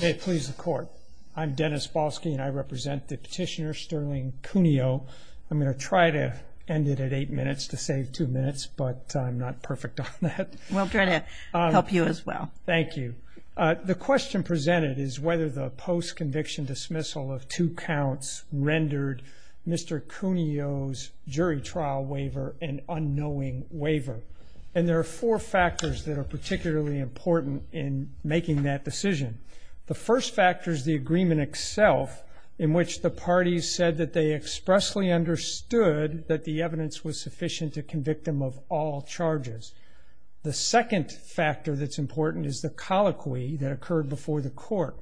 May it please the court. I'm Dennis Balski and I represent the petitioner Sterling Cunio. I'm going to try to end it at eight minutes to save two minutes, but I'm not perfect on that. We'll try to help you as well. Thank you. The question presented is whether the post conviction dismissal of two counts rendered Mr. Cunio's jury trial waiver an unknowing waiver. And there are four factors that are particularly important in making that decision. The first factor is the agreement itself in which the parties said that they expressly understood that the evidence was sufficient to convict him of all charges. The second factor that's important is the colloquy that occurred before the court.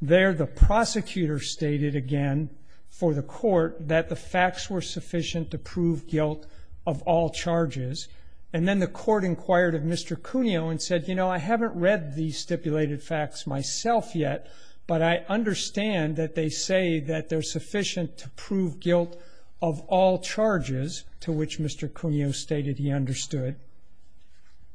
There, the prosecutor stated again for the court that the facts were sufficient to prove guilt of all charges. And then the court inquired of Mr. Cunio and said, you know, I haven't read the stipulated facts myself yet, but I understand that they say that they're sufficient to prove guilt of all charges to which Mr. Cunio stated he understood.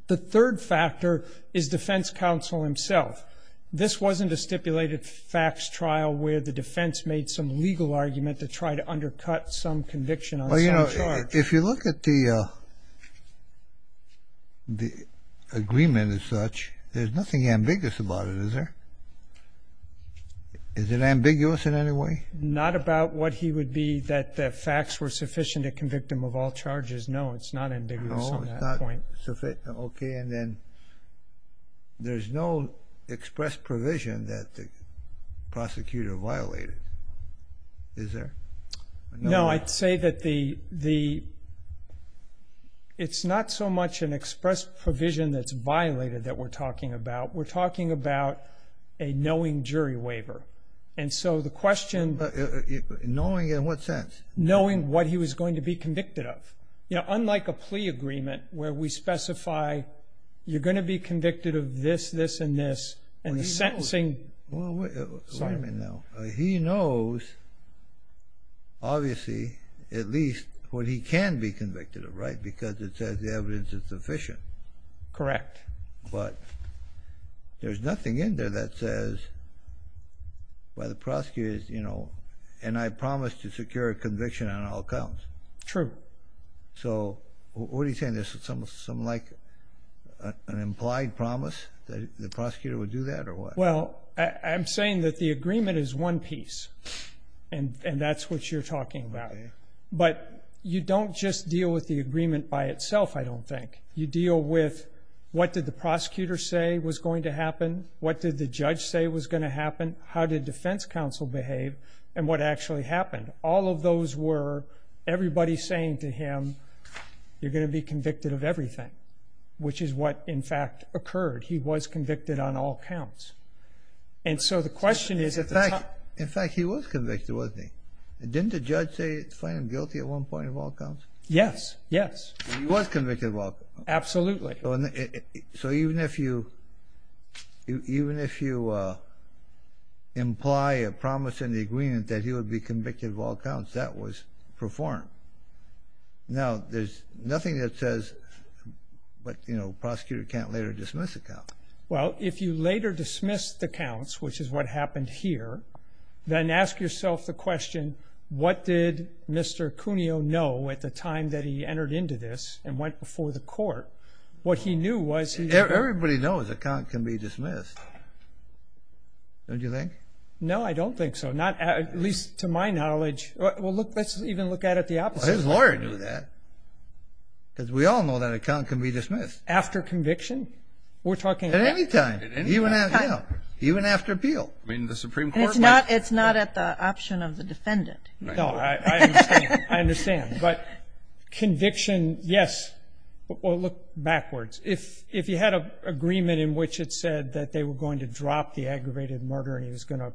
The third factor is defense counsel himself. This wasn't a stipulated facts trial where the defense made some legal argument to try to undercut some conviction on some charge. Well, you know, if you look at the agreement as such, there's nothing ambiguous about it, is there? Is it ambiguous in any way? Not about what he would be that the facts were sufficient to convict him of all charges. No, it's not ambiguous on that point. Okay. And then there's no express provision that the prosecutor violated, is there? No, I'd say that it's not so much an express provision that's violated that we're talking about. We're talking about a knowing jury waiver. And so the question... Knowing in what sense? Knowing what he was going to be convicted of. You know, unlike a plea agreement where we specify you're going to be convicted of this, this, and this, and the sentencing... Well, wait a minute now. He knows, obviously, at least what he can be convicted of, right? Because it says the evidence is sufficient. Correct. But there's nothing in there that says, well, the prosecutor is, you know... And I promised to secure a conviction on all counts. True. So what are you saying? There's something like an implied promise that the prosecutor would do that, or what? Well, I'm saying that the agreement is one piece, and that's what you're talking about. But you don't just deal with the agreement by itself, I don't think. You deal with what did the prosecutor say was going to happen, what did the judge say was going to happen, how did defense counsel behave, and what actually happened. All of those were everybody saying to him, you're going to be convicted of everything, which is what, in fact, occurred. He was convicted on all counts. And so the question is... In fact, he was convicted, wasn't he? Didn't the judge say it's fine and guilty at one point of all counts? Yes, yes. He was convicted of all counts. Absolutely. So even if you imply a promise in the agreement that he would be convicted of all counts, that was performed. Now, there's nothing that says, you know, prosecutor can't later dismiss the counts. Well, if you later dismiss the counts, which is what happened here, then ask yourself the question, what did Mr. Cuneo know at the time that he entered into this and went before the court? What he knew was he... Everybody knows a count can be dismissed. Don't you think? No, I don't think so. Not at least to my knowledge. Well, look, let's even look at it the opposite way. Well, his lawyer knew that because we all know that a count can be dismissed. After conviction? We're talking... At any time. At any time. Even after appeal. I mean, the Supreme Court... It's not at the option of the defendant. No, I understand. I understand. But conviction, yes. Well, look backwards. If you had an agreement in which it said that they were going to drop the aggravated murder and he was going to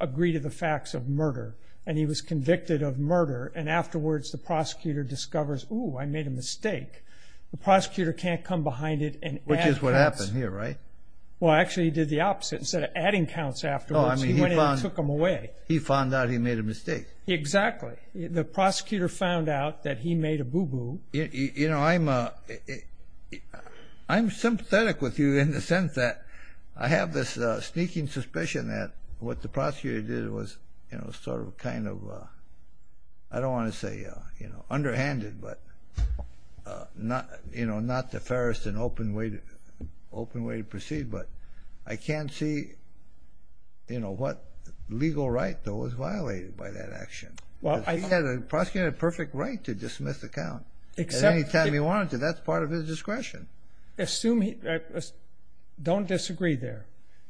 agree to the facts of murder and he was convicted of murder and afterwards the prosecutor discovers, ooh, I made a mistake, the prosecutor can't come behind it and add counts. Which is what happened here, right? Well, actually, he did the opposite. Instead of adding counts afterwards, he went in and took them away. He found out he made a mistake. Exactly. The prosecutor found out that he made a boo-boo. You know, I'm sympathetic with you in the sense that I have this sneaking suspicion that what the prosecutor did was sort of kind of, I don't want to say underhanded, but not the fairest and open way to proceed. But I can't see what legal right, though, was violated by that action. The prosecutor had a perfect right to dismiss the count at any time he wanted to. That's part of his discretion. Don't disagree there.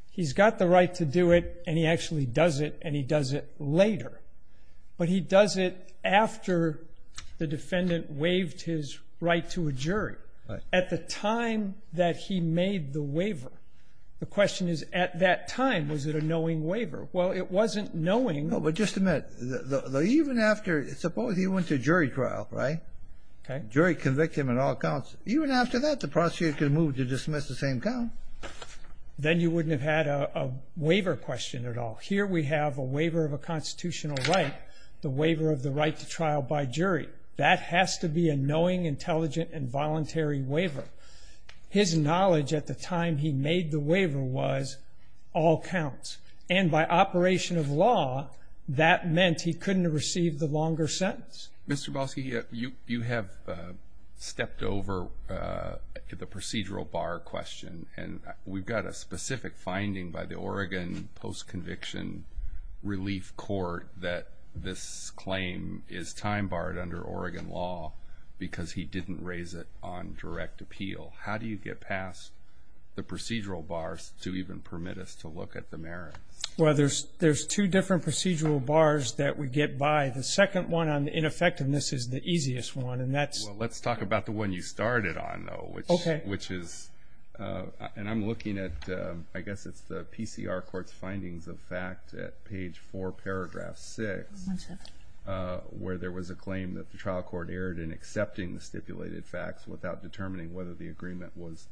He's got the right to do it, and he actually does it, and he does it later. But he does it after the defendant waived his right to a jury. At the time that he made the waiver, the question is, at that time, was it a knowing waiver? Well, it wasn't knowing. No, but just a minute. Even after, suppose he went to jury trial, right? Okay. Jury convicted him in all counts. Even after that, the prosecutor could have moved to dismiss the same count. Then you wouldn't have had a waiver question at all. Here we have a waiver of a constitutional right, the waiver of the right to trial by jury. That has to be a knowing, intelligent, and voluntary waiver. His knowledge at the time he made the waiver was all counts. And by operation of law, that meant he couldn't have received the longer sentence. Mr. Balski, you have stepped over to the procedural bar question, and we've got a specific finding by the Oregon Post-Conviction Relief Court that this claim is time-barred under Oregon law because he didn't raise it on direct appeal. How do you get past the procedural bars to even permit us to look at the merits? Well, there's two different procedural bars that we get by. The second one on ineffectiveness is the easiest one, and that's- And I'm looking at-I guess it's the PCR Court's findings of fact at page 4, paragraph 6, where there was a claim that the trial court erred in accepting the stipulated facts without determining whether the agreement was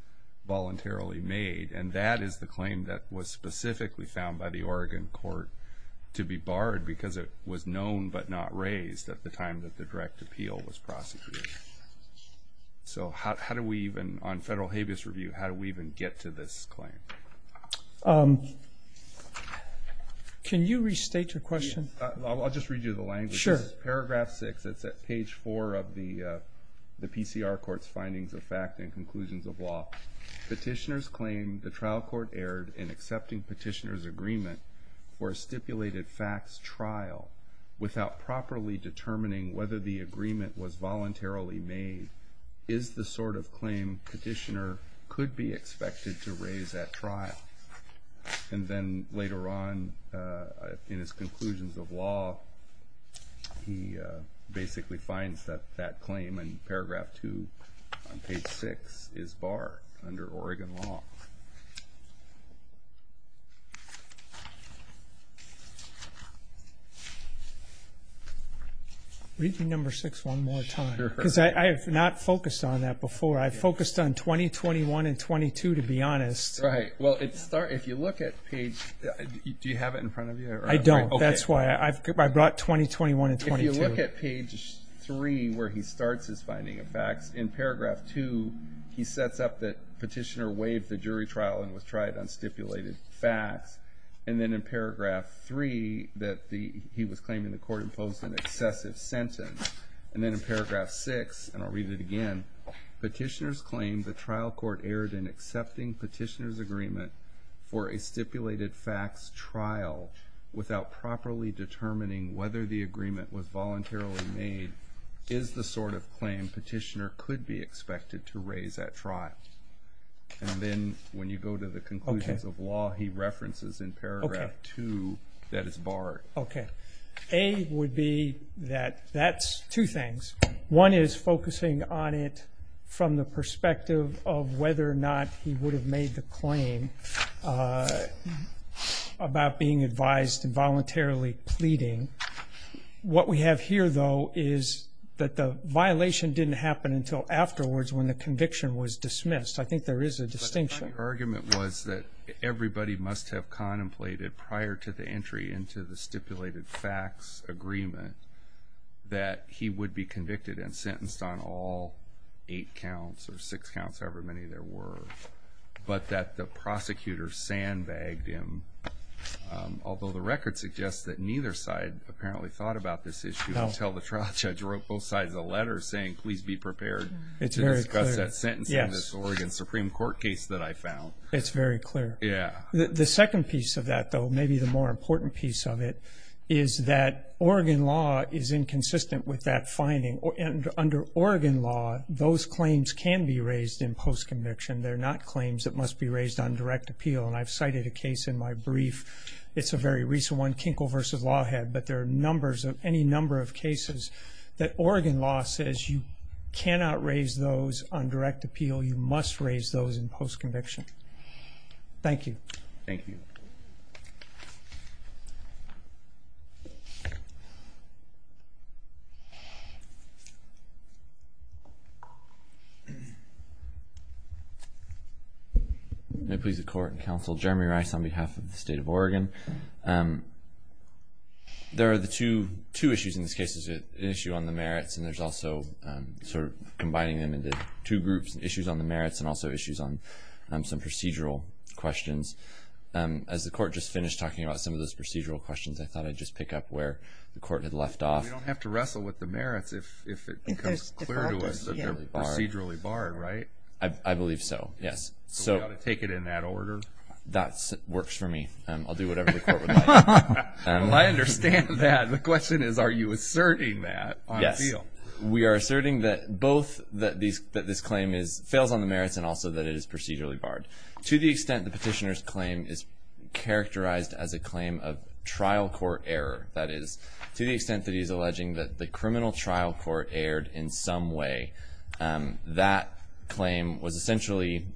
voluntarily made. And that is the claim that was specifically found by the Oregon court to be barred because it was known but not raised at the time that the direct appeal was prosecuted. So how do we even-on federal habeas review, how do we even get to this claim? Can you restate your question? I'll just read you the language. Sure. Paragraph 6. It's at page 4 of the PCR Court's findings of fact and conclusions of law. Petitioners claim the trial court erred in accepting petitioners' agreement for a stipulated facts trial without properly determining whether the agreement was voluntarily made is the sort of claim petitioner could be expected to raise at trial. And then later on in his conclusions of law, he basically finds that that claim in paragraph 2 on page 6 is barred under Oregon law. Read you number 6 one more time. Because I have not focused on that before. I've focused on 20, 21, and 22, to be honest. Right. Well, if you look at page-do you have it in front of you? I don't. That's why I brought 20, 21, and 22. If you look at page 3 where he starts his finding of facts, in paragraph 2 he sets up that petitioner waived the jury trial and was tried on stipulated facts. And then in paragraph 3 that he was claiming the court imposed an excessive sentence. And then in paragraph 6, and I'll read it again, for a stipulated facts trial without properly determining whether the agreement was voluntarily made is the sort of claim petitioner could be expected to raise at trial. And then when you go to the conclusions of law, he references in paragraph 2 that it's barred. Okay. A would be that that's two things. One is focusing on it from the perspective of whether or not he would have made the claim about being advised and voluntarily pleading. What we have here, though, is that the violation didn't happen until afterwards when the conviction was dismissed. I think there is a distinction. But the argument was that everybody must have contemplated prior to the entry and sentenced on all eight counts or six counts, however many there were, but that the prosecutor sandbagged him. Although the record suggests that neither side apparently thought about this issue until the trial judge wrote both sides a letter saying, please be prepared to discuss that sentence in this Oregon Supreme Court case that I found. It's very clear. The second piece of that, though, maybe the more important piece of it, is that Oregon law is inconsistent with that finding. Under Oregon law, those claims can be raised in postconviction. They're not claims that must be raised on direct appeal. And I've cited a case in my brief. It's a very recent one, Kinkle v. Lawhead, but there are any number of cases that Oregon law says you cannot raise those on direct appeal. You must raise those in postconviction. Thank you. Thank you. May it please the Court and Counsel, Jeremy Rice on behalf of the State of Oregon. There are two issues in this case. There's an issue on the merits and there's also sort of combining them into two groups, issues on the merits and also issues on some procedural questions. As the Court just finished talking about some of those procedural questions, I thought I'd just pick up where the Court had left off. We don't have to wrestle with the merits if it becomes clear to us that they're procedurally barred, right? I believe so, yes. So we've got to take it in that order? That works for me. I'll do whatever the Court would like. Well, I understand that. The question is, are you asserting that on appeal? We are asserting that both that this claim fails on the merits and also that it is procedurally barred. To the extent the petitioner's claim is characterized as a claim of trial court error, that is to the extent that he's alleging that the criminal trial court erred in some way, that claim was essentially,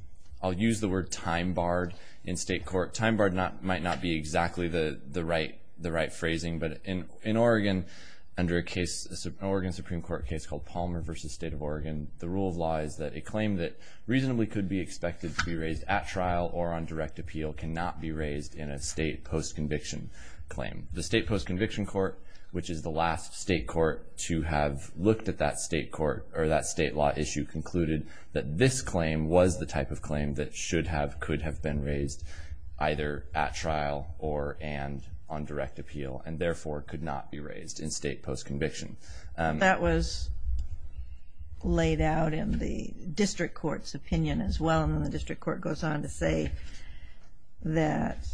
I'll use the word time barred in state court. Time barred might not be exactly the right phrasing, but in Oregon under a case, an Oregon Supreme Court case called Palmer v. State of Oregon, the rule of law is that a claim that reasonably could be expected to be raised at trial or on direct appeal cannot be raised in a state post-conviction claim. The state post-conviction court, which is the last state court to have looked at that state court or that state law issue, concluded that this claim was the type of claim that should have, could have been raised either at trial or and on direct appeal. And therefore, could not be raised in state post-conviction. That was laid out in the district court's opinion as well. And the district court goes on to say that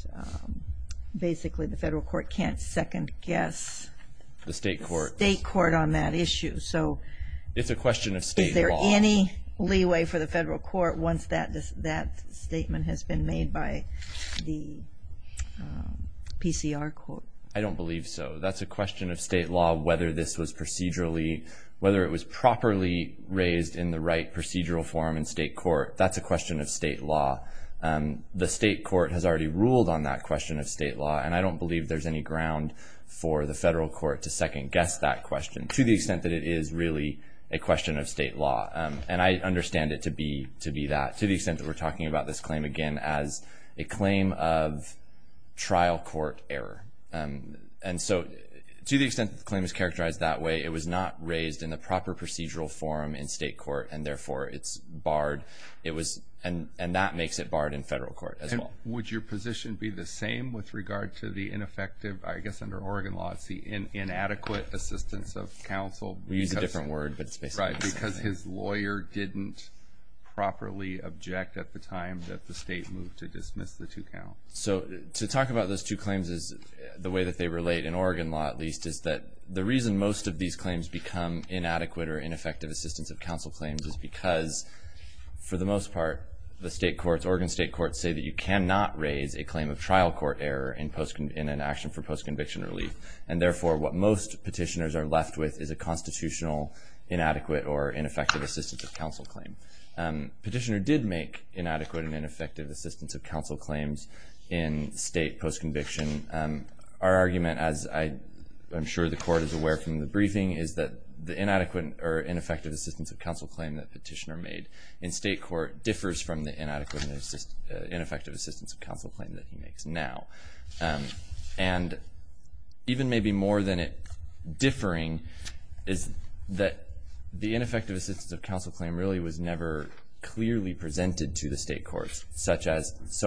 basically the federal court can't second guess the state court on that issue. So is there any leeway for the federal court once that statement has been made by the PCR court? I don't believe so. That's a question of state law, whether this was procedurally, whether it was properly raised in the right procedural form in state court. That's a question of state law. The state court has already ruled on that question of state law, and I don't believe there's any ground for the federal court to second guess that question, to the extent that it is really a question of state law. And I understand it to be that, to the extent that we're talking about this claim again as a claim of trial court error. And so to the extent that the claim is characterized that way, it was not raised in the proper procedural form in state court, and therefore it's barred. And that makes it barred in federal court as well. Would your position be the same with regard to the ineffective, I guess under Oregon law, it's the inadequate assistance of counsel? We use a different word, but it's basically the same thing. Right, because his lawyer didn't properly object at the time that the state moved to dismiss the two counts. So to talk about those two claims, the way that they relate, in Oregon law at least, is that the reason most of these claims become inadequate or ineffective assistance of counsel claims is because, for the most part, the state courts, Oregon state courts, say that you cannot raise a claim of trial court error in an action for post-conviction relief. And therefore, what most petitioners are left with is a constitutional inadequate or ineffective assistance of counsel claim. Petitioner did make inadequate and ineffective assistance of counsel claims in state post-conviction. Our argument, as I'm sure the court is aware from the briefing, is that the inadequate or ineffective assistance of counsel claim that petitioner made in state court differs from the inadequate and ineffective assistance of counsel claim that he makes now. And even maybe more than it differing is that the ineffective assistance of counsel claim really was never clearly presented to the state courts, so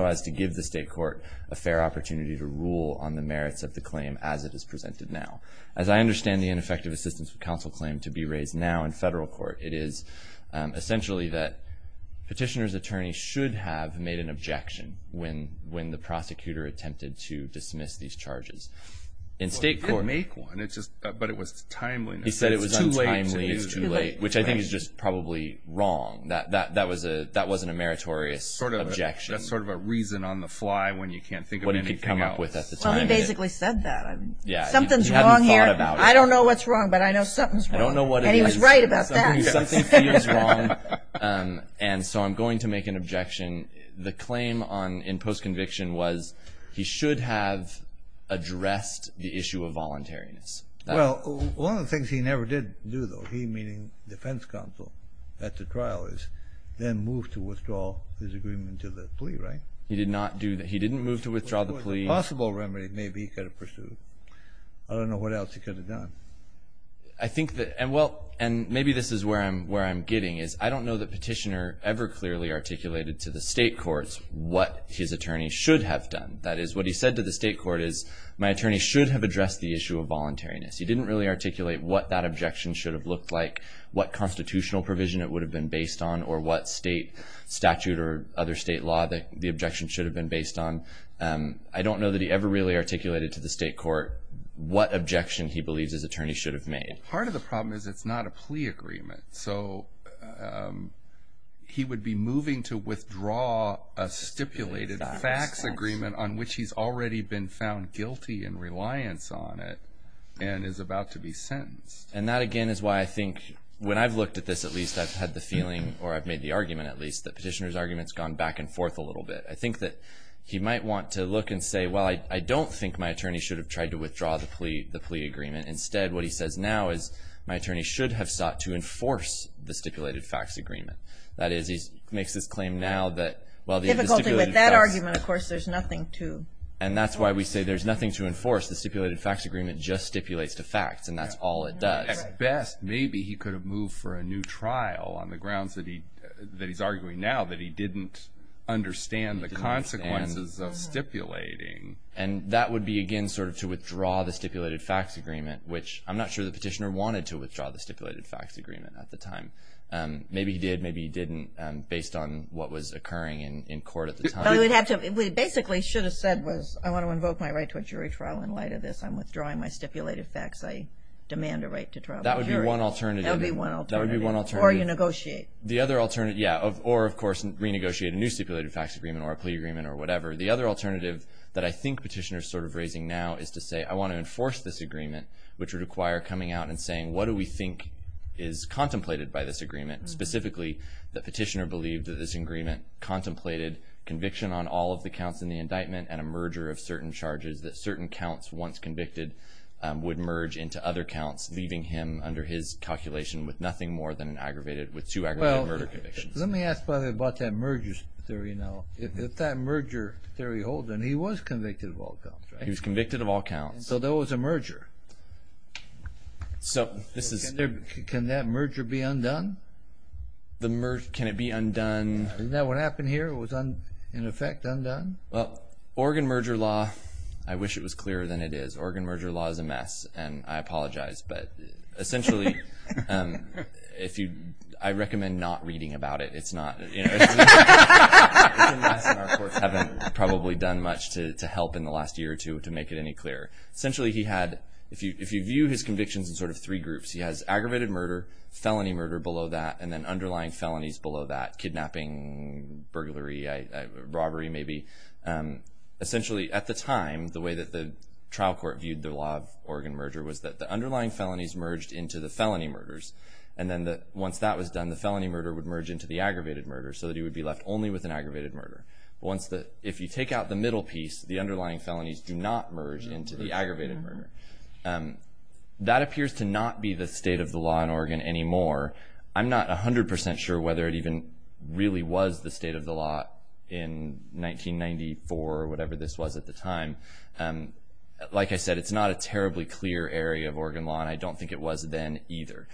as to give the state court a fair opportunity to rule on the merits of the claim as it is presented now. As I understand the ineffective assistance of counsel claim to be raised now in federal court, it is essentially that petitioner's attorney should have made an objection when the prosecutor attempted to dismiss these charges. In state court- He didn't make one, but it was timeliness. He said it was untimely. It was too late. Which I think is just probably wrong. That wasn't a meritorious objection. Sort of a reason on the fly when you can't think of anything else. What he could come up with at the time. Well, he basically said that. Yeah. Something's wrong here. He hadn't thought about it. I don't know what's wrong, but I know something's wrong. I don't know what it is. And he was right about that. Something feels wrong, and so I'm going to make an objection. The claim in post-conviction was he should have addressed the issue of voluntariness. Well, one of the things he never did do, though, he meaning defense counsel at the trial, is then move to withdraw his agreement to the plea, right? He did not do that. He didn't move to withdraw the plea. It was a possible remedy maybe he could have pursued. I don't know what else he could have done. I think that-and maybe this is where I'm getting, is I don't know that petitioner ever clearly articulated to the state courts what his attorney should have done. That is, what he said to the state court is, my attorney should have addressed the issue of voluntariness. He didn't really articulate what that objection should have looked like, what constitutional provision it would have been based on, or what state statute or other state law the objection should have been based on. I don't know that he ever really articulated to the state court what objection he believes his attorney should have made. Part of the problem is it's not a plea agreement. So he would be moving to withdraw a stipulated fax agreement on which he's already been found guilty in reliance on it and is about to be sentenced. And that, again, is why I think, when I've looked at this at least, I've had the feeling, or I've made the argument at least, that petitioner's argument's gone back and forth a little bit. I think that he might want to look and say, well, I don't think my attorney should have tried to withdraw the plea agreement. Instead, what he says now is, my attorney should have sought to enforce the stipulated fax agreement. That is, he makes this claim now that, well, the stipulated fax- Actually, with that argument, of course, there's nothing to- And that's why we say there's nothing to enforce. The stipulated fax agreement just stipulates to facts, and that's all it does. At best, maybe he could have moved for a new trial on the grounds that he's arguing now that he didn't understand the consequences of stipulating. And that would be, again, sort of to withdraw the stipulated fax agreement, which I'm not sure the petitioner wanted to withdraw the stipulated fax agreement at the time. Maybe he did, maybe he didn't, based on what was occurring in court at the time. What he basically should have said was, I want to invoke my right to a jury trial in light of this. I'm withdrawing my stipulated fax. I demand a right to trial. That would be one alternative. That would be one alternative. Or you negotiate. The other alternative, yeah. Or, of course, renegotiate a new stipulated fax agreement or a plea agreement or whatever. The other alternative that I think petitioner's sort of raising now is to say, I want to enforce this agreement, which would require coming out and saying, what do we think is contemplated by this agreement? Specifically, the petitioner believed that this agreement contemplated conviction on all of the counts in the indictment and a merger of certain charges that certain counts once convicted would merge into other counts, leaving him under his calculation with nothing more than an aggravated, with two aggravated murder convictions. Well, let me ask, by the way, about that merger theory now. If that merger theory holds, then he was convicted of all counts, right? He was convicted of all counts. So there was a merger. Can that merger be undone? Can it be undone? Isn't that what happened here? It was, in effect, undone? Well, Oregon merger law, I wish it was clearer than it is. Oregon merger law is a mess, and I apologize. But essentially, I recommend not reading about it. It's a mess, and our courts haven't probably done much to help in the last year or two to make it any clearer. Essentially, he had, if you view his convictions in sort of three groups, he has aggravated murder, felony murder below that, and then underlying felonies below that, kidnapping, burglary, robbery maybe. Essentially, at the time, the way that the trial court viewed the law of Oregon merger was that the underlying felonies merged into the felony murders. Once that was done, the felony murder would merge into the aggravated murder so that he would be left only with an aggravated murder. If you take out the middle piece, the underlying felonies do not merge into the aggravated murder. That appears to not be the state of the law in Oregon anymore. I'm not 100% sure whether it even really was the state of the law in 1994 or whatever this was at the time. Like I said, it's not a terribly clear area of Oregon law, and I don't think it was then either.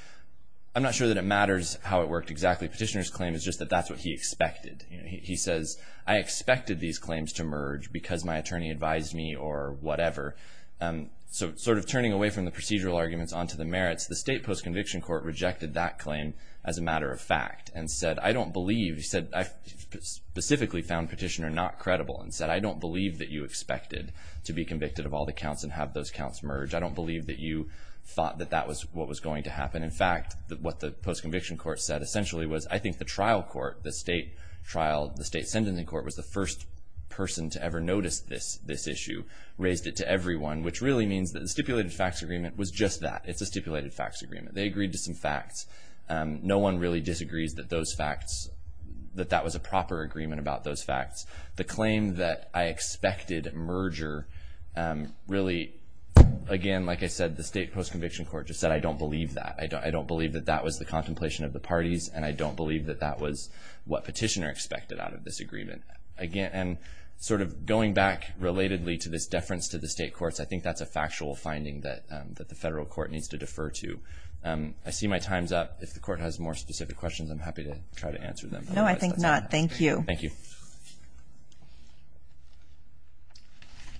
I'm not sure that it matters how it worked exactly. Petitioner's claim is just that that's what he expected. He says, I expected these claims to merge because my attorney advised me or whatever. Sort of turning away from the procedural arguments onto the merits, the state post-conviction court rejected that claim as a matter of fact and said, I don't believe, he said, I specifically found Petitioner not credible and said, I don't believe that you expected to be convicted of all the counts and have those counts merge. I don't believe that you thought that that was what was going to happen. In fact, what the post-conviction court said essentially was, I think the trial court, the state sentencing court, was the first person to ever notice this issue, raised it to everyone, which really means that the stipulated facts agreement was just that. It's a stipulated facts agreement. They agreed to some facts. No one really disagrees that that was a proper agreement about those facts. The claim that I expected merger really, again, like I said, the state post-conviction court just said, I don't believe that. I don't believe that that was the contemplation of the parties, and I don't believe that that was what Petitioner expected out of this agreement. And sort of going back relatedly to this deference to the state courts, I think that's a factual finding that the federal court needs to defer to. I see my time's up. If the court has more specific questions, I'm happy to try to answer them. No, I think not. Thank you. Thank you.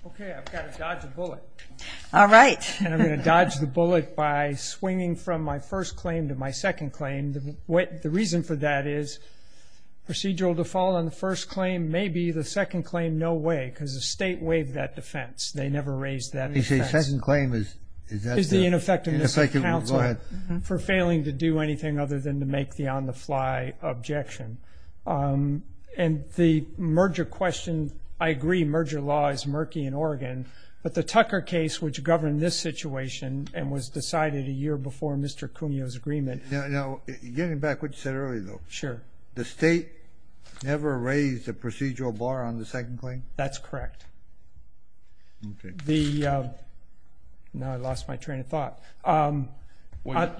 Okay. I've got to dodge a bullet. All right. And I'm going to dodge the bullet by swinging from my first claim to my second claim. The reason for that is procedural default on the first claim may be the second claim no way, because the state waived that defense. They never raised that defense. The second claim is the ineffective counsel for failing to do anything other than to make the on-the-fly objection. And the merger question, I agree, merger law is murky in Oregon, but the Tucker case, which governed this situation and was decided a year before Mr. Cuneo's agreement. Now, getting back to what you said earlier, though. Sure. The state never raised a procedural bar on the second claim? Okay. Now I lost my train of thought.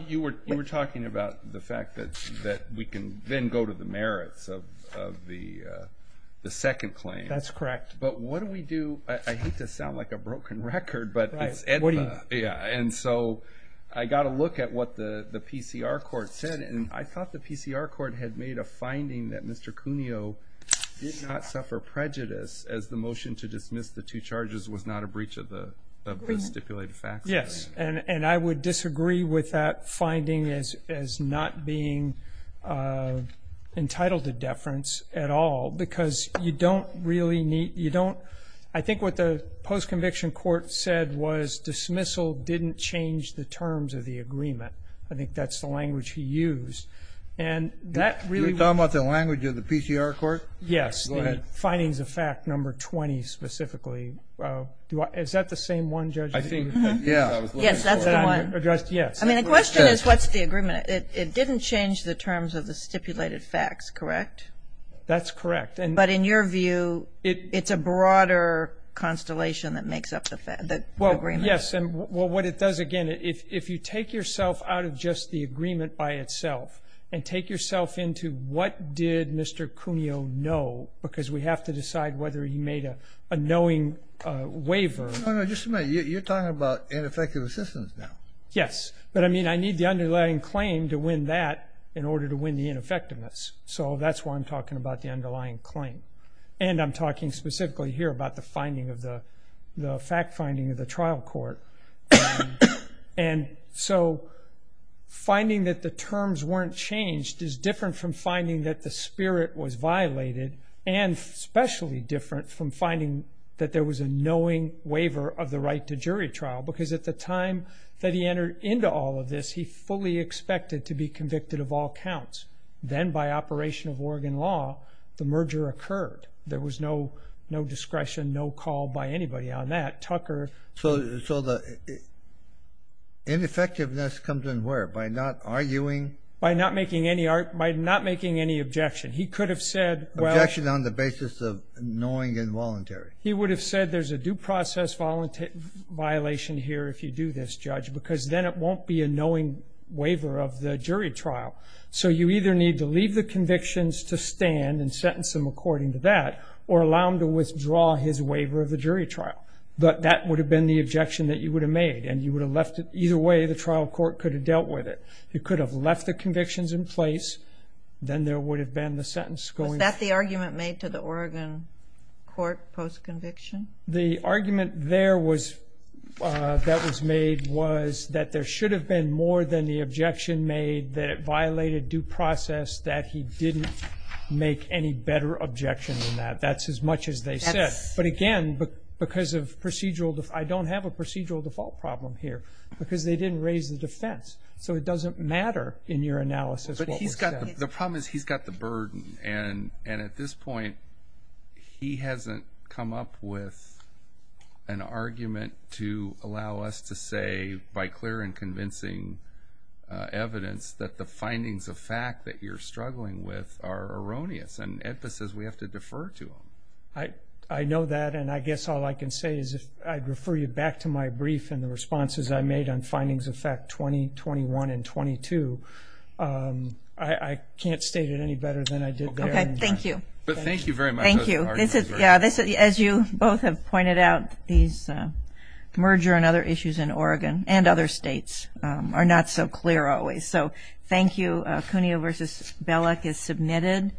You were talking about the fact that we can then go to the merits of the second claim. That's correct. But what do we do? I hate to sound like a broken record, but it's EDMA. And so I got a look at what the PCR court said, and I thought the PCR court had made a finding that Mr. Cuneo did not suffer prejudice as the motion to dismiss the two charges was not a breach of the stipulated facts. Yes. And I would disagree with that finding as not being entitled to deference at all, because you don't really need – you don't – I think what the post-conviction court said was dismissal didn't change the terms of the agreement. I think that's the language he used. And that really – You're talking about the language of the PCR court? Yes. Go ahead. The findings of fact number 20 specifically. Is that the same one, Judge? Yeah. Yes, that's the one. I mean, the question is what's the agreement. It didn't change the terms of the stipulated facts, correct? That's correct. But in your view, it's a broader constellation that makes up the agreement. Well, yes. And what it does, again, if you take yourself out of just the agreement by itself and take yourself into what did Mr. Cuneo know, because we have to decide whether he made a knowing waiver. No, no, just a minute. You're talking about ineffective assistance now. Yes. But, I mean, I need the underlying claim to win that in order to win the ineffectiveness. So that's why I'm talking about the underlying claim. And I'm talking specifically here about the finding of the – the fact finding of the trial court. And so finding that the terms weren't changed is different from finding that the spirit was violated and especially different from finding that there was a knowing waiver of the right to jury trial because at the time that he entered into all of this, he fully expected to be convicted of all counts. Then by operation of Oregon law, the merger occurred. There was no discretion, no call by anybody on that. Tucker. So the ineffectiveness comes in where? By not arguing? By not making any objection. He could have said, well. Objection on the basis of knowing involuntary. He would have said there's a due process violation here if you do this, Judge, because then it won't be a knowing waiver of the jury trial. So you either need to leave the convictions to stand and sentence him according to that or allow him to withdraw his waiver of the jury trial. But that would have been the objection that you would have made and you would have left it either way the trial court could have dealt with it. You could have left the convictions in place. Then there would have been the sentence going. Was that the argument made to the Oregon court post-conviction? The argument there that was made was that there should have been more than the objection made that it violated due process that he didn't make any better objection than that. That's as much as they said. But again, because of procedural – I don't have a procedural default problem here because they didn't raise the defense. So it doesn't matter in your analysis what was said. The problem is he's got the burden, and at this point he hasn't come up with an argument to allow us to say, by clear and convincing evidence, that the findings of fact that you're struggling with are erroneous. And EDPA says we have to defer to him. I know that, and I guess all I can say is I'd refer you back to my brief and the responses I made on findings of fact 20, 21, and 22. I can't state it any better than I did there. Okay, thank you. But thank you very much. Thank you. As you both have pointed out, these merger and other issues in Oregon and other states are not so clear always. So thank you. Cuneo v. Belek is submitted.